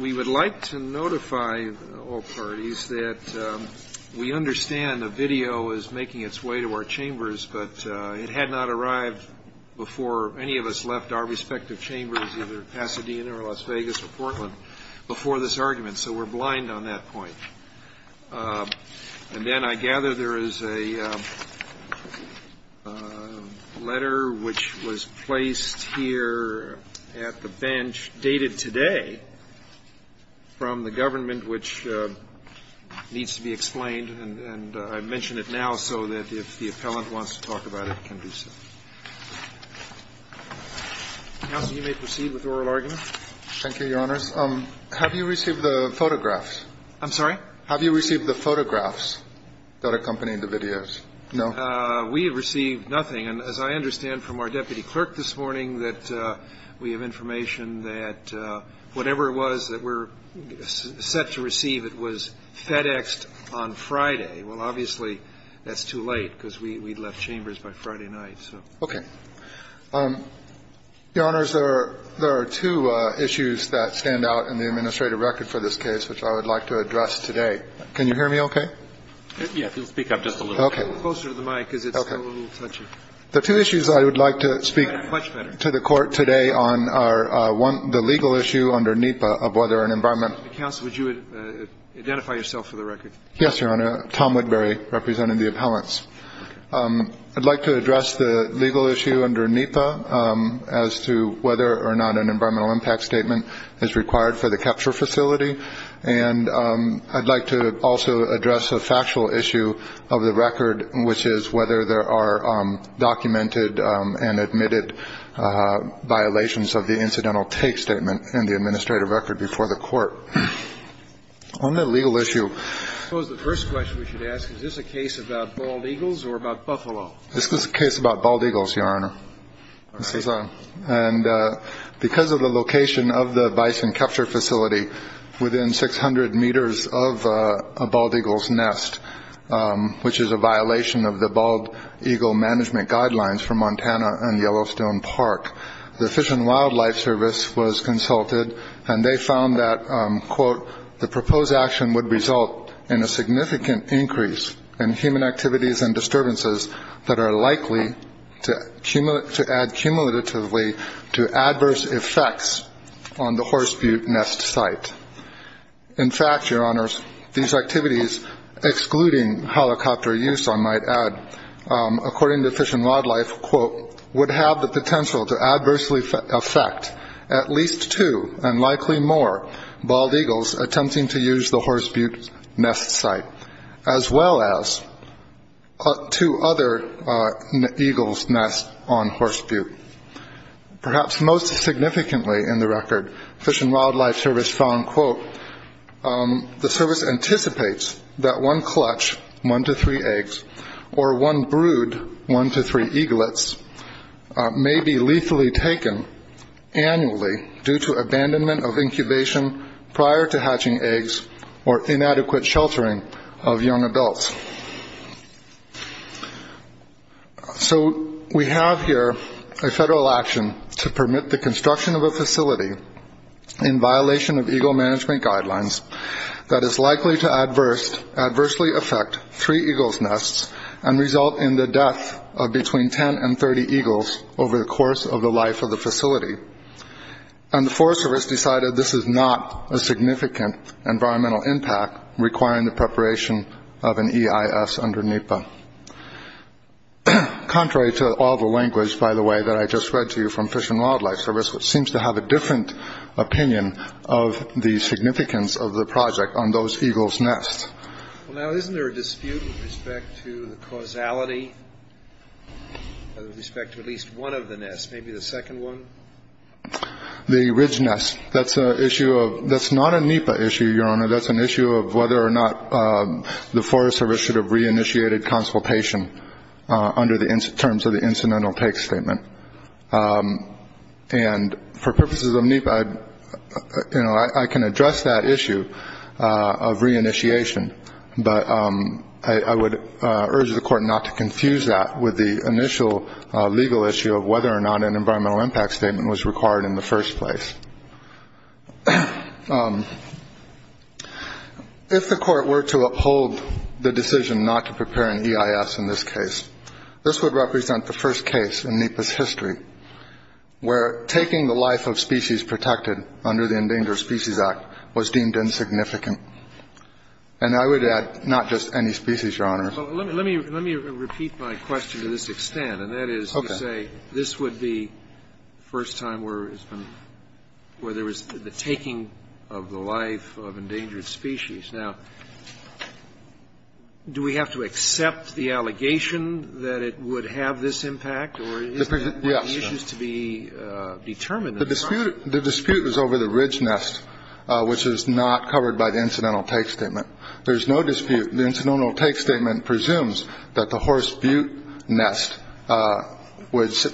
We would like to notify all parties that we understand the video is making its way to our chambers, but it had not arrived before any of us left our respective chambers, either Pasadena or Las Vegas or Portland, before this argument, so we're blind on that point. And then I gather there is a letter which was placed here at the bench dated today from the government which needs to be explained, and I mention it now so that if the appellant wants to talk about it, he can do so. Counsel, you may proceed with oral argument. Thank you, Your Honors. Have you received the photographs? I'm sorry? Have you received the photographs that accompanied the videos? No? We have received nothing. And as I understand from our deputy clerk this morning, that we have information that whatever it was that we're set to receive, it was FedExed on Friday. Well, obviously, that's too late because we left chambers by Friday night, so. Okay. Your Honors, there are two issues that stand out in the administrative record for this case which I would like to address today. Can you hear me okay? Yes. Speak up just a little. Okay. Closer to the mic because it's a little touchy. Okay. The two issues I would like to speak to the Court today on are the legal issue under NEPA of whether an environment. Counsel, would you identify yourself for the record? Yes, Your Honor. Tom Woodbury, representing the appellants. I'd like to address the legal issue under NEPA as to whether or not an environmental impact statement is required for the capture facility. And I'd like to also address a factual issue of the record, which is whether there are documented and admitted violations of the incidental take statement in the administrative record before the Court. On the legal issue. I suppose the first question we should ask, is this a case about bald eagles or about buffalo? This is a case about bald eagles, Your Honor. And because of the location of the bison capture facility within 600 meters of a bald eagle's nest, which is a violation of the bald eagle management guidelines for Montana and Yellowstone Park, the Fish and Wildlife Service was consulted and they found that, quote, the proposed action would result in a significant increase in human activities and disturbances that are likely to add cumulatively to adverse effects on the horse butte nest site. In fact, Your Honors, these activities, excluding helicopter use, I might add, according to Fish and Wildlife, quote, would have the potential to adversely affect at least two and likely more bald eagles attempting to use the horse butte nest site, as well as two other eagles' nests on horse butte. Perhaps most significantly in the record, Fish and Wildlife Service found, quote, the service anticipates that one clutch, one to three eggs, or one brood, one to three eaglets, may be lethally taken annually due to abandonment of incubation prior to hatching eggs or inadequate sheltering of young adults. So we have here a federal action to permit the construction of a facility in violation of eagle management guidelines that is likely to adversely affect three eagles' nests and result in the death of between 10 and 30 eagles over the course of the life of the facility. And the Forest Service decided this is not a significant environmental impact requiring the preparation of an EIS under NEPA. Contrary to all the language, by the way, that I just read to you from Fish and Wildlife Service, which seems to have a different opinion of the significance of the project on those eagles' nests. Well, now, isn't there a dispute with respect to the causality, with respect to at least one of the nests, maybe the second one? The Ridge Nest, that's not a NEPA issue, Your Honor. That's an issue of whether or not the Forest Service should have re-initiated consultation under the terms of the Incidental Take Statement. And for purposes of NEPA, I can address that issue of re-initiation, but I would urge the Court not to confuse that with the initial legal issue of whether or not an environmental impact statement was required in the first place. If the Court were to uphold the decision not to prepare an EIS in this case, this would represent the first case in NEPA's history where taking the life of species protected under the Endangered Species Act was deemed insignificant. I'm sorry, Your Honor. Let me repeat my question to this extent. Okay. And that is to say this would be the first time where there was the taking of the life of endangered species. Now, do we have to accept the allegation that it would have this impact? Yes. Or isn't that one of the issues to be determined? The dispute is over the Ridge Nest, which is not covered by the Incidental Take Statement. There is no dispute. The Incidental Take Statement presumes that the Horse Butte Nest would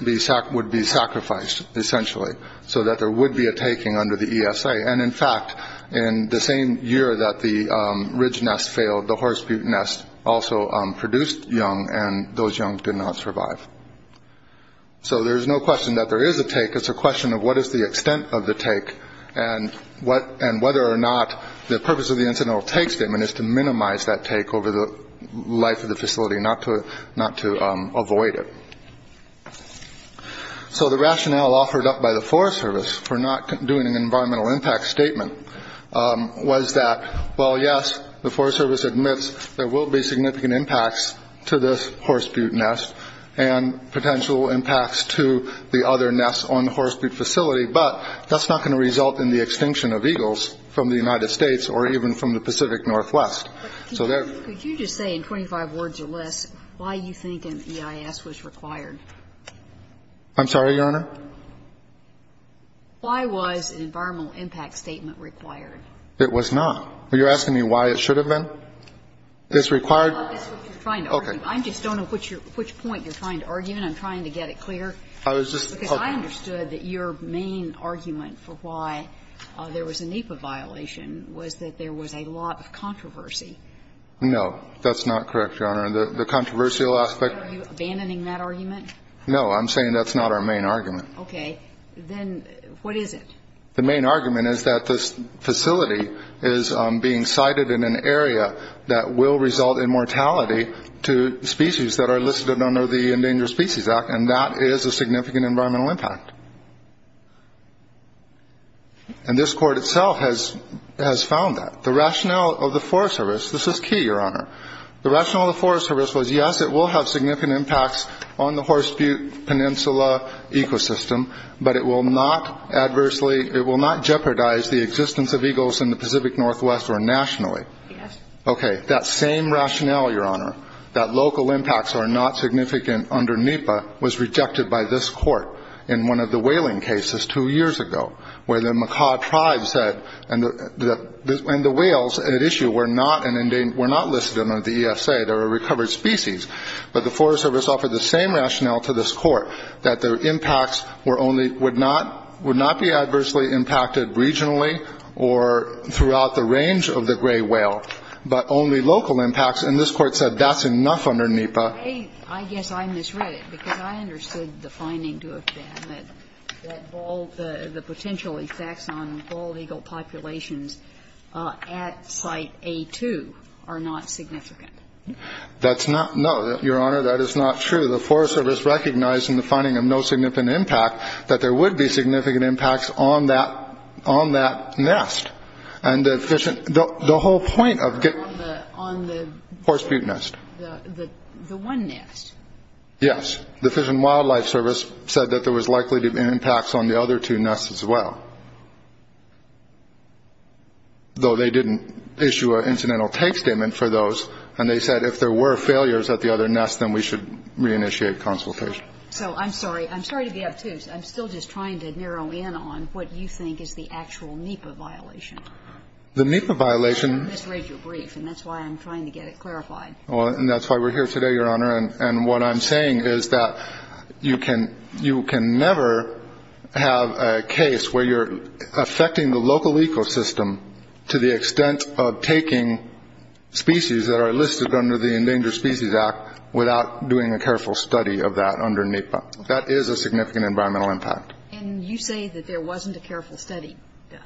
be sacrificed, essentially, so that there would be a taking under the ESA. And, in fact, in the same year that the Ridge Nest failed, the Horse Butte Nest also produced young, and those young did not survive. So there is no question that there is a take. It's a question of what is the extent of the take and whether or not the purpose of the Incidental Take Statement is to minimize that take over the life of the facility, not to avoid it. So the rationale offered up by the Forest Service for not doing an environmental impact statement was that, well, yes, the Forest Service admits there will be significant impacts to this Horse Butte Nest and potential impacts to the other nests on the Horse Butte Facility, but that's not going to result in the extinction of eagles from the United States or even from the Pacific Northwest. So there's no question that there is a take. But could you just say in 25 words or less why you think an EIS was required? I'm sorry, Your Honor? Why was an environmental impact statement required? It was not. Are you asking me why it should have been? It's required? No, that's what you're trying to argue. Okay. I just don't know which point you're trying to argue, and I'm trying to get it clear. I was just hoping. Because I understood that your main argument for why there was a NEPA violation was that there was a lot of controversy. No, that's not correct, Your Honor. The controversial aspect. Are you abandoning that argument? No, I'm saying that's not our main argument. Okay. Then what is it? The main argument is that this facility is being sited in an area that will result in mortality to species that are listed under the Endangered Species Act, and that is a significant environmental impact. And this Court itself has found that. The rationale of the Forest Service, this is key, Your Honor. The rationale of the Forest Service was, yes, it will have significant impacts on the Horseshoe Peninsula ecosystem, but it will not adversely, it will not jeopardize the existence of eagles in the Pacific Northwest or nationally. Yes. Okay. That same rationale, Your Honor, that local impacts are not significant under NEPA, was rejected by this Court in one of the whaling cases two years ago, where the Makah tribes said, and the whales at issue were not listed under the ESA. They're a recovered species. But the Forest Service offered the same rationale to this Court, that their impacts were only, would not be adversely impacted regionally or throughout the range of the gray whale, but only local impacts. And this Court said that's enough under NEPA. I guess I misread it, because I understood the finding to have been that all the potential effects on bald eagle populations at Site A-2 are not significant. That's not, no, Your Honor, that is not true. The Forest Service recognized in the finding of no significant impact that there would be significant impacts on that, on that nest. And the whole point of getting. On the. Horseshoe nest. The one nest. Yes. The Fish and Wildlife Service said that there was likely to be impacts on the other two nests as well. Though they didn't issue an incidental take statement for those. And they said if there were failures at the other nest, then we should reinitiate consultation. So I'm sorry. I'm sorry to be obtuse. I'm still just trying to narrow in on what you think is the actual NEPA violation. The NEPA violation. I misread your brief, and that's why I'm trying to get it clarified. Well, and that's why we're here today, Your Honor. And what I'm saying is that you can, you can never have a case where you're affecting the local ecosystem to the extent of taking species that are listed under the Endangered Species Act without doing a careful study of that under NEPA. That is a significant environmental impact. And you say that there wasn't a careful study done.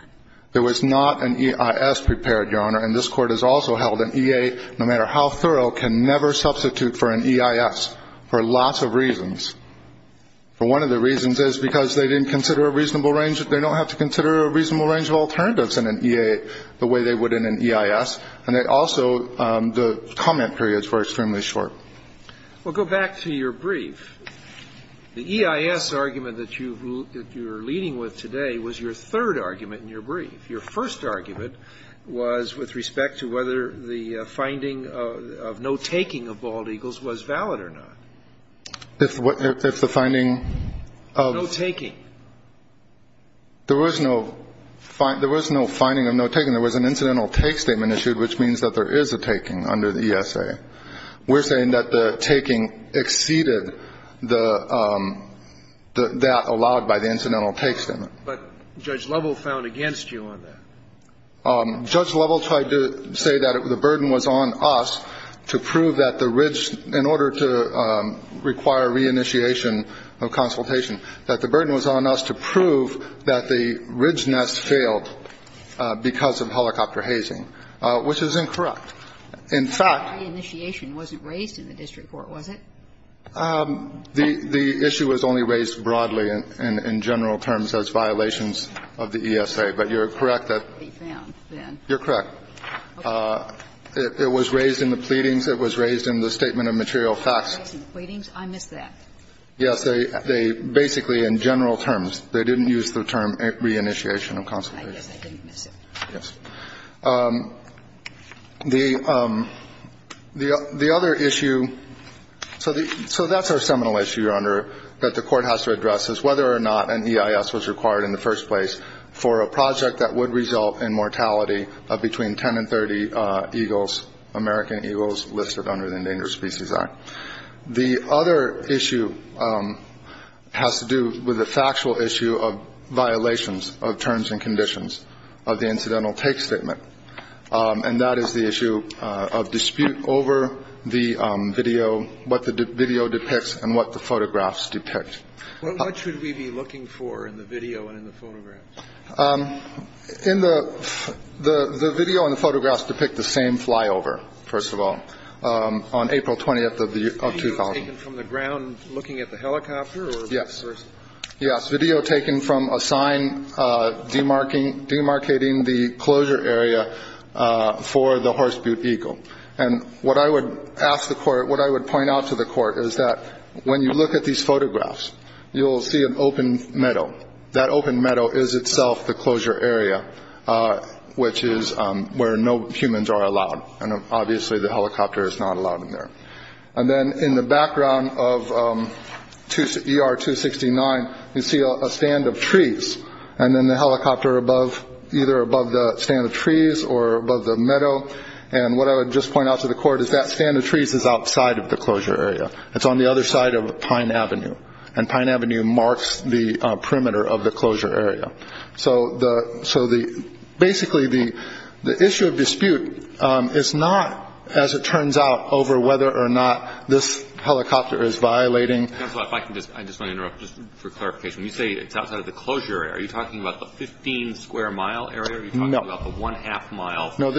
There was not an EIS prepared, Your Honor. And this Court has also held an EA, no matter how thorough, can never substitute for an EIS for lots of reasons. One of the reasons is because they didn't consider a reasonable range. They don't have to consider a reasonable range of alternatives in an EA the way they would in an EIS. And they also, the comment periods were extremely short. Well, go back to your brief. The EIS argument that you're leading with today was your third argument in your brief. Your first argument was with respect to whether the finding of no taking of bald eagles was valid or not. If the finding of no taking. There was no finding of no taking. There was an incidental take statement issued, which means that there is a taking under the ESA. We're saying that the taking exceeded that allowed by the incidental take statement. But Judge Lovell found against you on that. Judge Lovell tried to say that the burden was on us to prove that the ridge, in order to require reinitiation of consultation, that the burden was on us to prove that the ridge nest failed because of helicopter hazing, which is incorrect. In fact. Reinitiation wasn't raised in the district court, was it? The issue was only raised broadly in general terms as violations of the ESA. But you're correct that. You're correct. It was raised in the pleadings. It was raised in the statement of material facts. It was raised in the pleadings? I missed that. Yes. They basically, in general terms, they didn't use the term reinitiation of consultation. I guess I didn't miss it. Yes. The other issue, so that's our seminal issue, Your Honor, that the court has to address, is whether or not an EIS was required in the first place for a project that would result in mortality of between 10 and 30 eagles, American eagles listed under the Endangered Species Act. The other issue has to do with the factual issue of violations of terms and conditions of the incidental take statement. And that is the issue of dispute over the video, what the video depicts and what the photographs depict. What should we be looking for in the video and in the photographs? The video and the photographs depict the same flyover, first of all, on April 20th of 2000. Video taken from the ground looking at the helicopter? Yes. Video taken from a sign demarcating the closure area for the horseboot eagle. And what I would ask the court, what I would point out to the court, is that when you look at these photographs, you will see an open meadow. That open meadow is itself the closure area, which is where no humans are allowed. And obviously the helicopter is not allowed in there. And then in the background of ER-269, you see a stand of trees. And then the helicopter above, either above the stand of trees or above the meadow. And what I would just point out to the court is that stand of trees is outside of the closure area. It's on the other side of Pine Avenue. And Pine Avenue marks the perimeter of the closure area. So basically the issue of dispute is not, as it turns out, over whether or not this helicopter is violating. Counselor, if I can just, I just want to interrupt just for clarification. When you say it's outside of the closure area, are you talking about the 15 square mile area? No. Are you talking about the one half mile? No, actually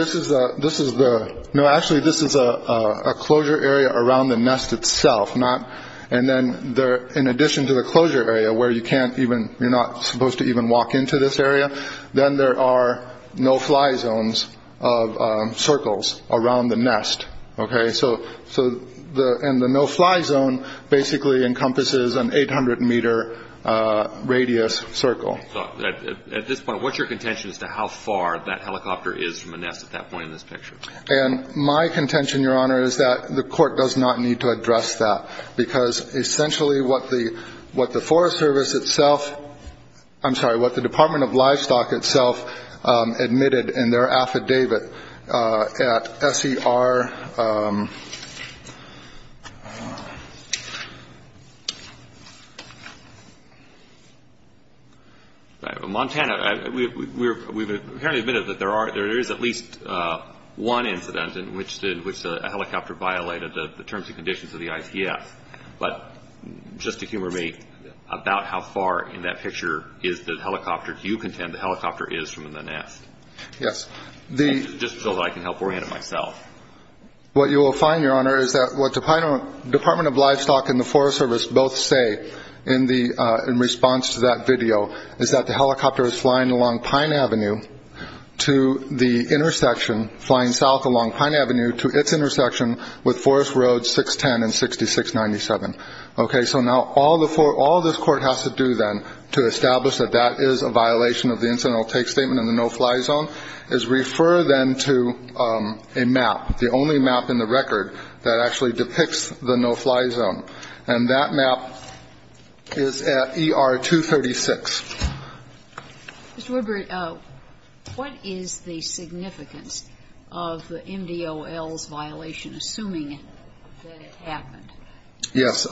this is a closure area around the nest itself. And then in addition to the closure area where you can't even, you're not supposed to even walk into this area, then there are no-fly zones of circles around the nest. Okay. So the no-fly zone basically encompasses an 800 meter radius circle. At this point, what's your contention as to how far that helicopter is from the nest at that point in this picture? And my contention, Your Honor, is that the court does not need to address that because essentially what the Forest Service itself, I'm sorry, what the Department of Livestock itself admitted in their affidavit at SER, Montana, we've apparently admitted that there is at least one incident in which a helicopter violated the terms and conditions of the ICF. But just to humor me about how far in that picture is the helicopter, do you contend the helicopter is from the nest? Yes. Just so that I can help orient it myself. What you will find, Your Honor, is that what the Department of Livestock and the Forest Service both say in response to that video is that the helicopter is flying along Pine Avenue to the intersection, flying south along Pine Avenue to its intersection with Forest Road 610 and 6697. Okay. So now all this court has to do then to establish that that is a violation of the incidental take statement and the no-fly zone is refer them to a map, the only map in the record that actually depicts the no-fly zone. And that map is at ER 236. Mr. Woodbury, what is the significance of MDOL's violation, assuming that it happened? Yes.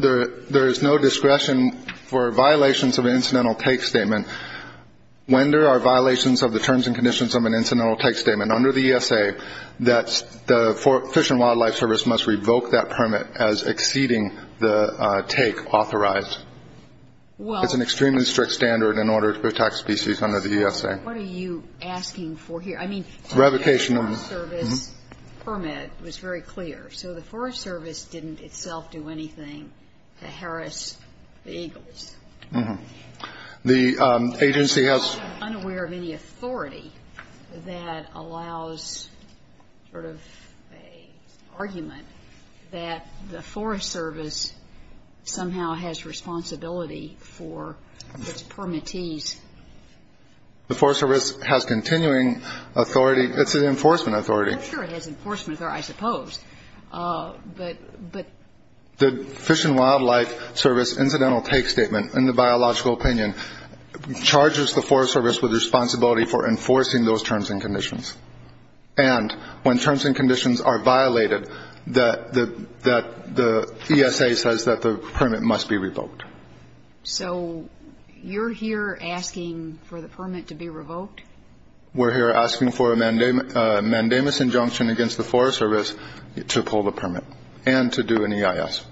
There is no discretion for violations of an incidental take statement. When there are violations of the terms and conditions of an incidental take statement under the ESA, the Fish and Wildlife Service must revoke that permit as exceeding the take authorized. It's an extremely strict standard in order to protect species under the ESA. What are you asking for here? I mean, the Forest Service permit was very clear. So the Forest Service didn't itself do anything to harass the eagles. The agency has unaware of any authority that allows sort of an argument that the Forest Service somehow has responsibility for its permittees. The Forest Service has continuing authority. It's an enforcement authority. Sure, it has enforcement authority, I suppose. But the Fish and Wildlife Service incidental take statement, in the biological opinion, charges the Forest Service with responsibility for enforcing those terms and conditions. And when terms and conditions are violated, the ESA says that the permit must be revoked. So you're here asking for the permit to be revoked? We're here asking for a mandamus injunction against the Forest Service to pull the permit and to do an EIS.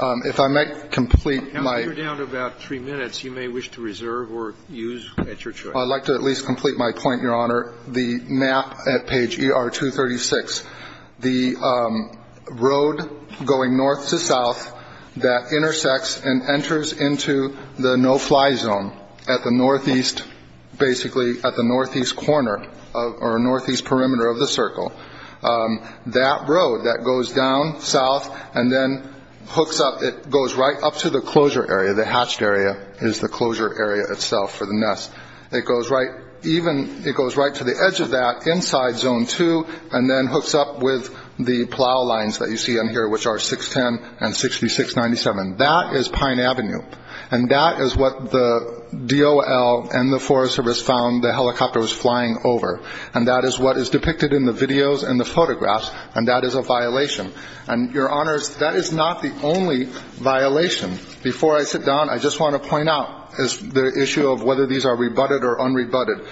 If I might complete my ---- Counsel, you're down to about three minutes. You may wish to reserve or use at your choice. I'd like to at least complete my point, Your Honor. The map at page ER-236, the road going north to south that intersects and enters into the no-fly zone at the northeast, basically at the northeast corner or northeast perimeter of the circle, that road that goes down south and then hooks up, it goes right up to the closure area, the hatched area is the closure area itself for the nest. It goes right to the edge of that inside Zone 2 and then hooks up with the plow lines that you see on here, which are 610 and 6697. That is Pine Avenue. And that is what the DOL and the Forest Service found the helicopter was flying over. And that is what is depicted in the videos and the photographs. And that is a violation. And, Your Honors, that is not the only violation. Before I sit down, I just want to point out the issue of whether these are rebutted or unrebutted.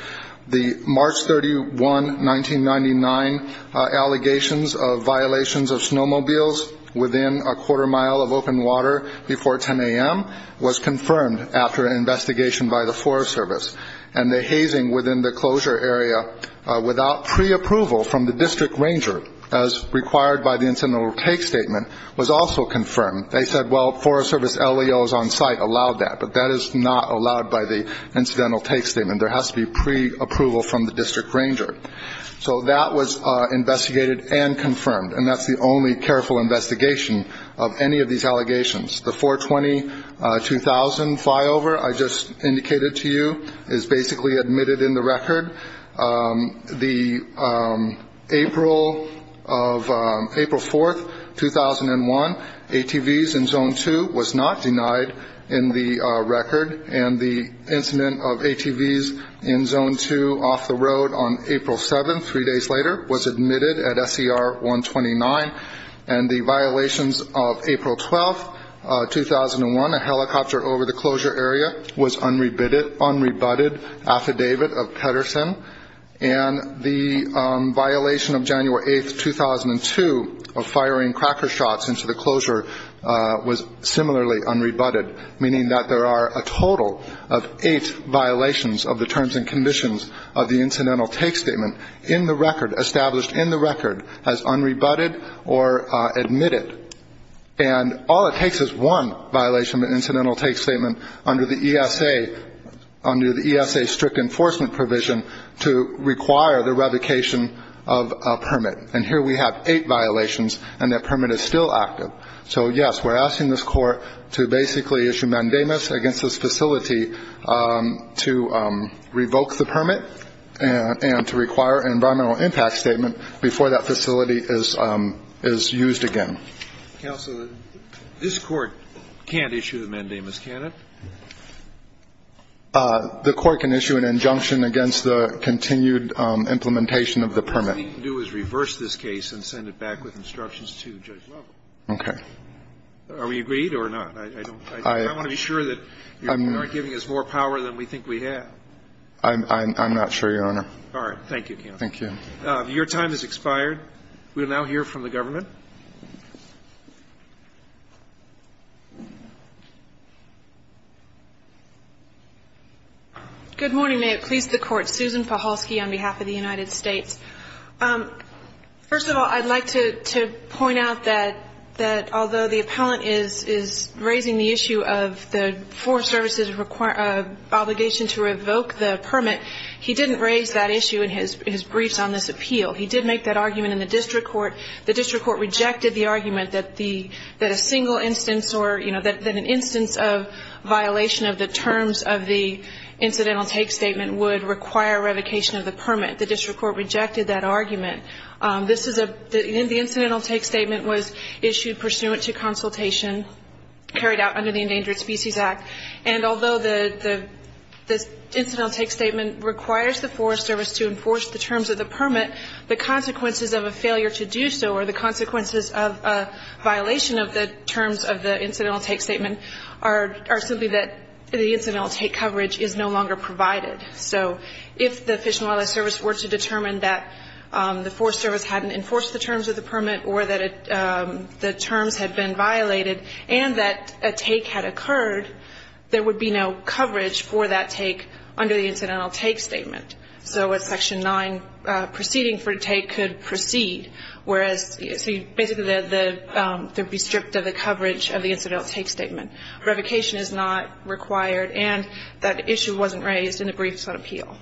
The March 31, 1999, allegations of violations of snowmobiles within a quarter mile of open water before 10 a.m. was confirmed after an investigation by the Forest Service. And the hazing within the closure area without preapproval from the district ranger, as required by the incidental take statement, was also confirmed. They said, well, Forest Service LEOs on site allowed that. But that is not allowed by the incidental take statement. There has to be preapproval from the district ranger. So that was investigated and confirmed. And that's the only careful investigation of any of these allegations. The 420-2000 flyover I just indicated to you is basically admitted in the record. The April 4, 2001, ATVs in Zone 2 was not denied in the record. And the incident of ATVs in Zone 2 off the road on April 7, three days later, was admitted at SCR 129. And the violations of April 12, 2001, a helicopter over the closure area was unrebutted, affidavit of Pedersen. And the violation of January 8, 2002, of firing cracker shots into the closure was similarly unrebutted, meaning that there are a total of eight violations of the terms and conditions of the incidental take statement in the record, established in the record as unrebutted or admitted. And all it takes is one violation of the incidental take statement under the ESA, under the ESA strict enforcement provision to require the revocation of a permit. And here we have eight violations, and that permit is still active. So, yes, we're asking this court to basically issue mandamus against this facility to revoke the permit and to require an environmental impact statement before that facility is used again. Counsel, this court can't issue the mandamus, can it? The court can issue an injunction against the continued implementation of the permit. What we can do is reverse this case and send it back with instructions to Judge Lovell. Okay. Are we agreed or not? I want to be sure that you're not giving us more power than we think we have. I'm not sure, Your Honor. All right. Thank you, counsel. Thank you. Your time has expired. We will now hear from the government. Good morning. May it please the Court. Susan Pahulski on behalf of the United States. First of all, I'd like to point out that although the appellant is raising the issue of the permit, he didn't raise that issue in his briefs on this appeal. He did make that argument in the district court. The district court rejected the argument that a single instance or, you know, that an instance of violation of the terms of the incidental take statement would require revocation of the permit. The district court rejected that argument. The incidental take statement was issued pursuant to consultation carried out under the Endangered Species Act. And although the incidental take statement requires the Forest Service to enforce the terms of the permit, the consequences of a failure to do so or the consequences of a violation of the terms of the incidental take statement are simply that the incidental take coverage is no longer provided. So if the Fish and Wildlife Service were to determine that the Forest Service hadn't enforced the terms of the permit or that the terms had been violated and that a take had occurred, there would be no coverage for that take under the incidental take statement. So a Section 9 proceeding for a take could proceed, whereas basically they'd be stripped of the coverage of the incidental take statement. Revocation is not required, and that issue wasn't raised in the briefs on appeal.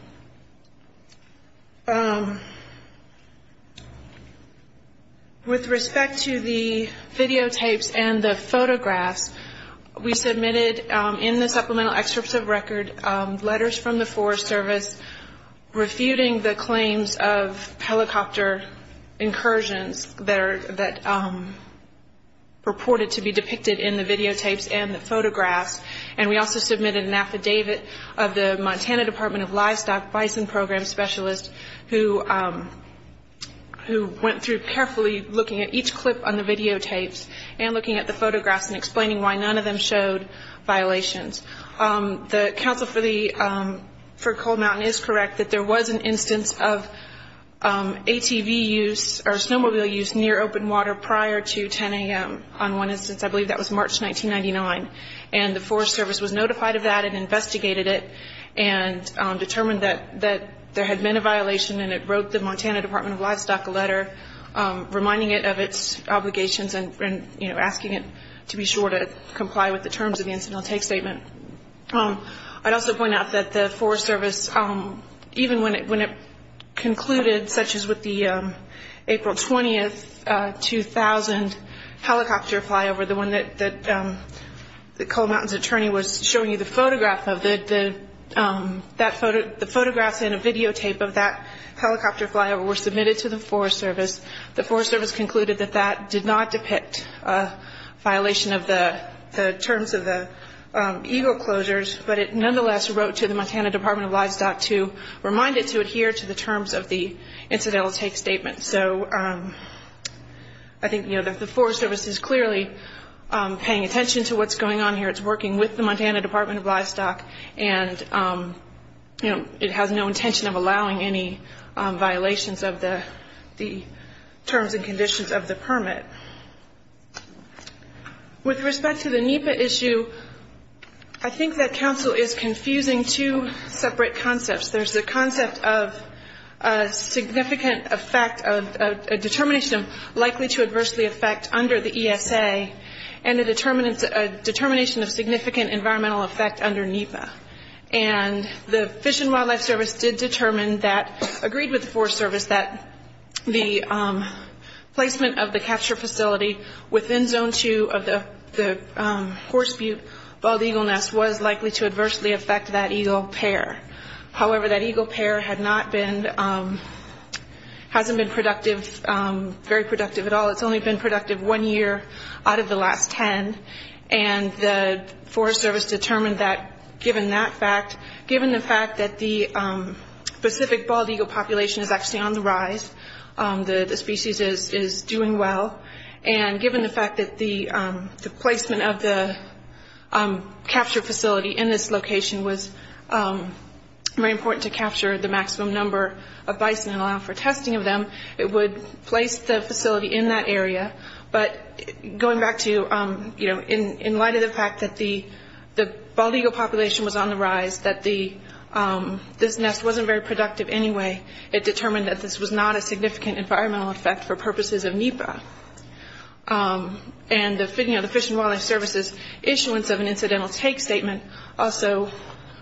With respect to the videotapes and the photographs, we submitted in the supplemental excerpts of record letters from the Forest Service refuting the claims of helicopter incursions that are reported to be depicted in the videotapes and the photographs. And we also submitted an affidavit of the Montana Department of Livestock Bison Program specialist who went through carefully looking at each clip on the videotapes and looking at the photographs and explaining why none of them showed violations. The counsel for Coal Mountain is correct that there was an instance of ATV use or snowmobile use near open water prior to 10 a.m. on one instance. I believe that was March 1999. And the Forest Service was notified of that and investigated it and determined that there had been a violation, and it wrote the Montana Department of Livestock a letter reminding it of its obligations and asking it to be sure to comply with the terms of the incidental take statement. I'd also point out that the Forest Service, even when it concluded, such as with the April 20, 2000, helicopter flyover, the one that the Coal Mountain's attorney was showing you the photograph of, the photographs and a videotape of that helicopter flyover were submitted to the Forest Service. The Forest Service concluded that that did not depict a violation of the terms of the eagle closures, but it nonetheless wrote to the Montana Department of Livestock to remind it to adhere to the terms of the incidental take statement. So I think the Forest Service is clearly paying attention to what's going on here. It's working with the Montana Department of Livestock, and it has no intention of allowing any violations of the terms and conditions of the permit. With respect to the NEPA issue, I think that counsel is confusing two separate concepts. There's the concept of a significant effect of a determination of likely to adversely affect under the ESA and a determination of significant environmental effect under NEPA. And the Fish and Wildlife Service did determine that, agreed with the Forest Service, that the placement of the capture facility within Zone 2 of the horse butte bald eagle nest was likely to adversely affect that eagle pair. However, that eagle pair had not been, hasn't been productive, very productive at all. It's only been productive one year out of the last 10, and the Forest Service determined that given that fact, that the specific bald eagle population is actually on the rise, the species is doing well, and given the fact that the placement of the capture facility in this location was very important to capture the maximum number of bison and allow for testing of them, it would place the facility in that area. But going back to, you know, in light of the fact that the bald eagle population was on the rise, that this nest wasn't very productive anyway, it determined that this was not a significant environmental effect for purposes of NEPA. And, you know, the Fish and Wildlife Service's issuance of an incidental take statement also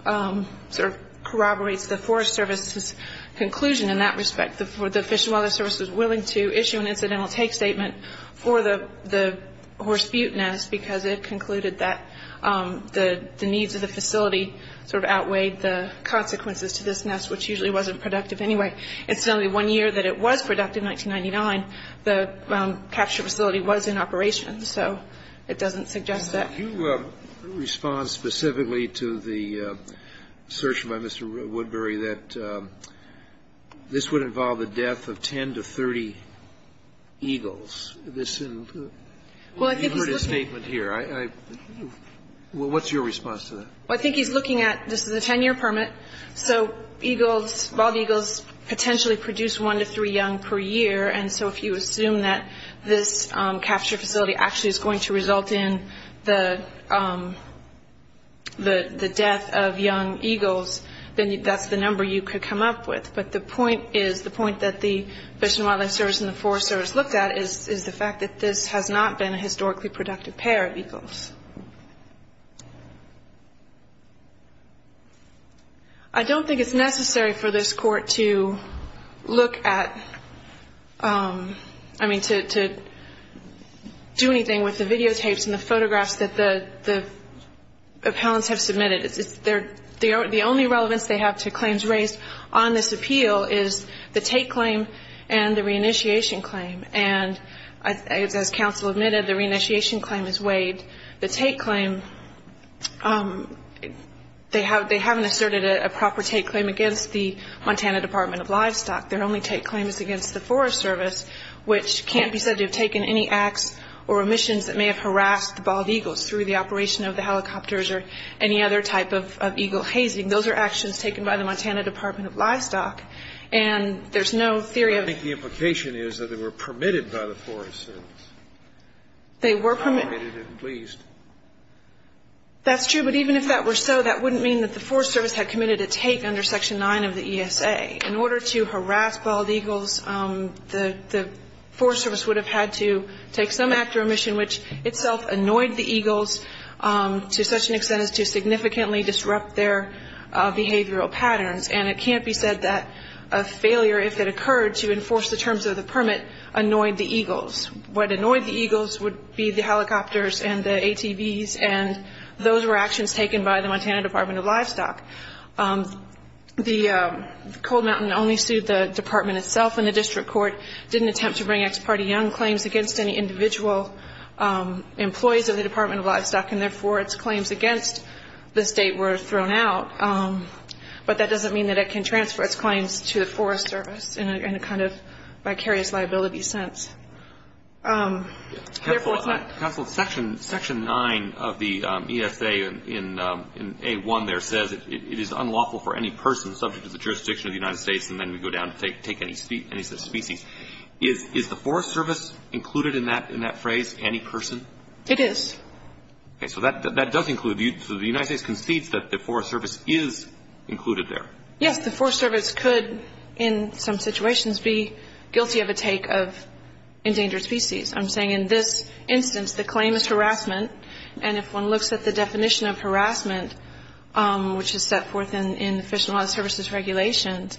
sort of corroborates the Forest Service's conclusion in that respect. The Fish and Wildlife Service was willing to issue an incidental take statement for the horse butte nest because it concluded that the needs of the facility sort of outweighed the consequences to this nest, which usually wasn't productive anyway. It's only one year that it was productive, 1999. The capture facility was in operation, so it doesn't suggest that. You respond specifically to the search by Mr. Woodbury that this would involve the death of 10 to 30 eagles. You heard his statement here. What's your response to that? Well, I think he's looking at this is a 10-year permit, so eagles, bald eagles potentially produce one to three young per year. And so if you assume that this capture facility actually is going to result in the death of young eagles, then that's the number you could come up with. But the point is, the point that the Fish and Wildlife Service and the Forest Service looked at is the fact that this has not been a historically productive pair of eagles. I don't think it's necessary for this Court to look at, I mean, to do anything with the videotapes and the photographs that the appellants have submitted. The only relevance they have to claims raised on this appeal is the take claim and the reinitiation claim. And as counsel admitted, the reinitiation claim is weighed. The take claim, they haven't asserted a proper take claim against the Montana Department of Livestock. Their only take claim is against the Forest Service, which can't be said to have taken any acts or omissions that may have harassed the bald eagles through the operation of the helicopters or any other type of eagle hazing. Those are actions taken by the Montana Department of Livestock. And there's no theory of the implication is that they were permitted by the Forest Service. They were permitted. They were permitted at least. That's true, but even if that were so, that wouldn't mean that the Forest Service had committed a take under Section 9 of the ESA. In order to harass bald eagles, the Forest Service would have had to take some act or omission which itself annoyed the eagles to such an extent as to significantly disrupt their behavioral patterns. And it can't be said that a failure, if it occurred, to enforce the terms of the permit annoyed the eagles. What annoyed the eagles would be the helicopters and the ATVs, and those were actions taken by the Montana Department of Livestock. The Cold Mountain only sued the department itself, and the district court didn't attempt to bring ex parte young claims against any individual employees of the Department of Livestock, and therefore its claims against the state were thrown out. But that doesn't mean that it can transfer its claims to the Forest Service in a kind of vicarious liability sense. Counsel, Section 9 of the ESA in A1 there says it is unlawful for any person subject to the jurisdiction of the United States and then we go down to take any species. Is the Forest Service included in that phrase, any person? It is. Okay, so that does include, so the United States concedes that the Forest Service is included there. Yes, the Forest Service could in some situations be guilty of a take of endangered species. I'm saying in this instance the claim is harassment, and if one looks at the definition of harassment, which is set forth in the Fish and Wildlife Service's regulations,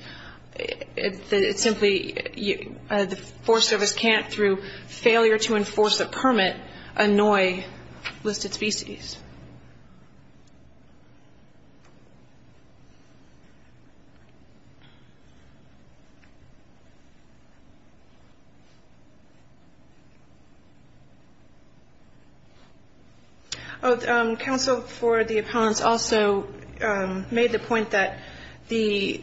it's simply the Forest Service can't, through failure to enforce a permit, annoy listed species. Counsel, for the opponents also made the point that the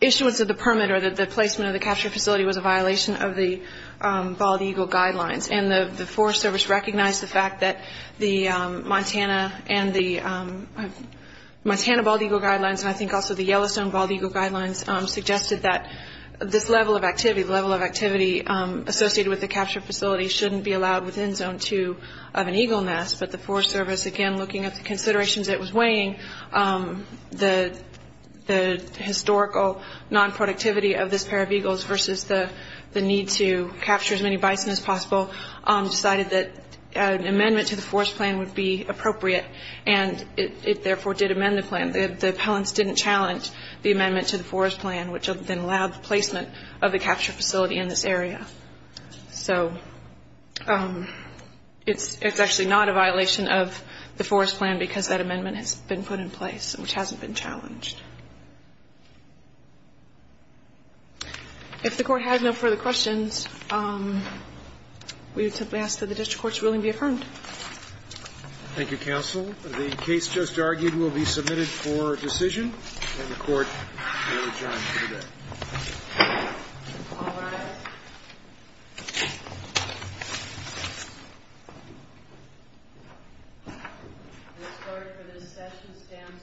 issuance of the permit or the placement of the capture facility was a violation of the Bald Eagle Guidelines, and the Forest Service recognized the fact that the Monsanto permit was a violation of the Bald Eagle Guidelines. And the Montana Bald Eagle Guidelines, and I think also the Yellowstone Bald Eagle Guidelines, suggested that this level of activity, the level of activity associated with the capture facility, shouldn't be allowed within Zone 2 of an eagle nest. But the Forest Service, again looking at the considerations it was weighing, the historical non-productivity of this pair of eagles versus the need to capture as many bison as possible, decided that an amendment to the Forest Plan would be appropriate, and it therefore did amend the plan. The appellants didn't challenge the amendment to the Forest Plan, which then allowed the placement of the capture facility in this area. So it's actually not a violation of the Forest Plan because that amendment has been put in place, which hasn't been challenged. If the Court has no further questions, we would simply ask that the district court's ruling be affirmed. Thank you, counsel. The case just argued will be submitted for decision, and the Court may adjourn for the day. All rise. The Court for this session stands adjourned.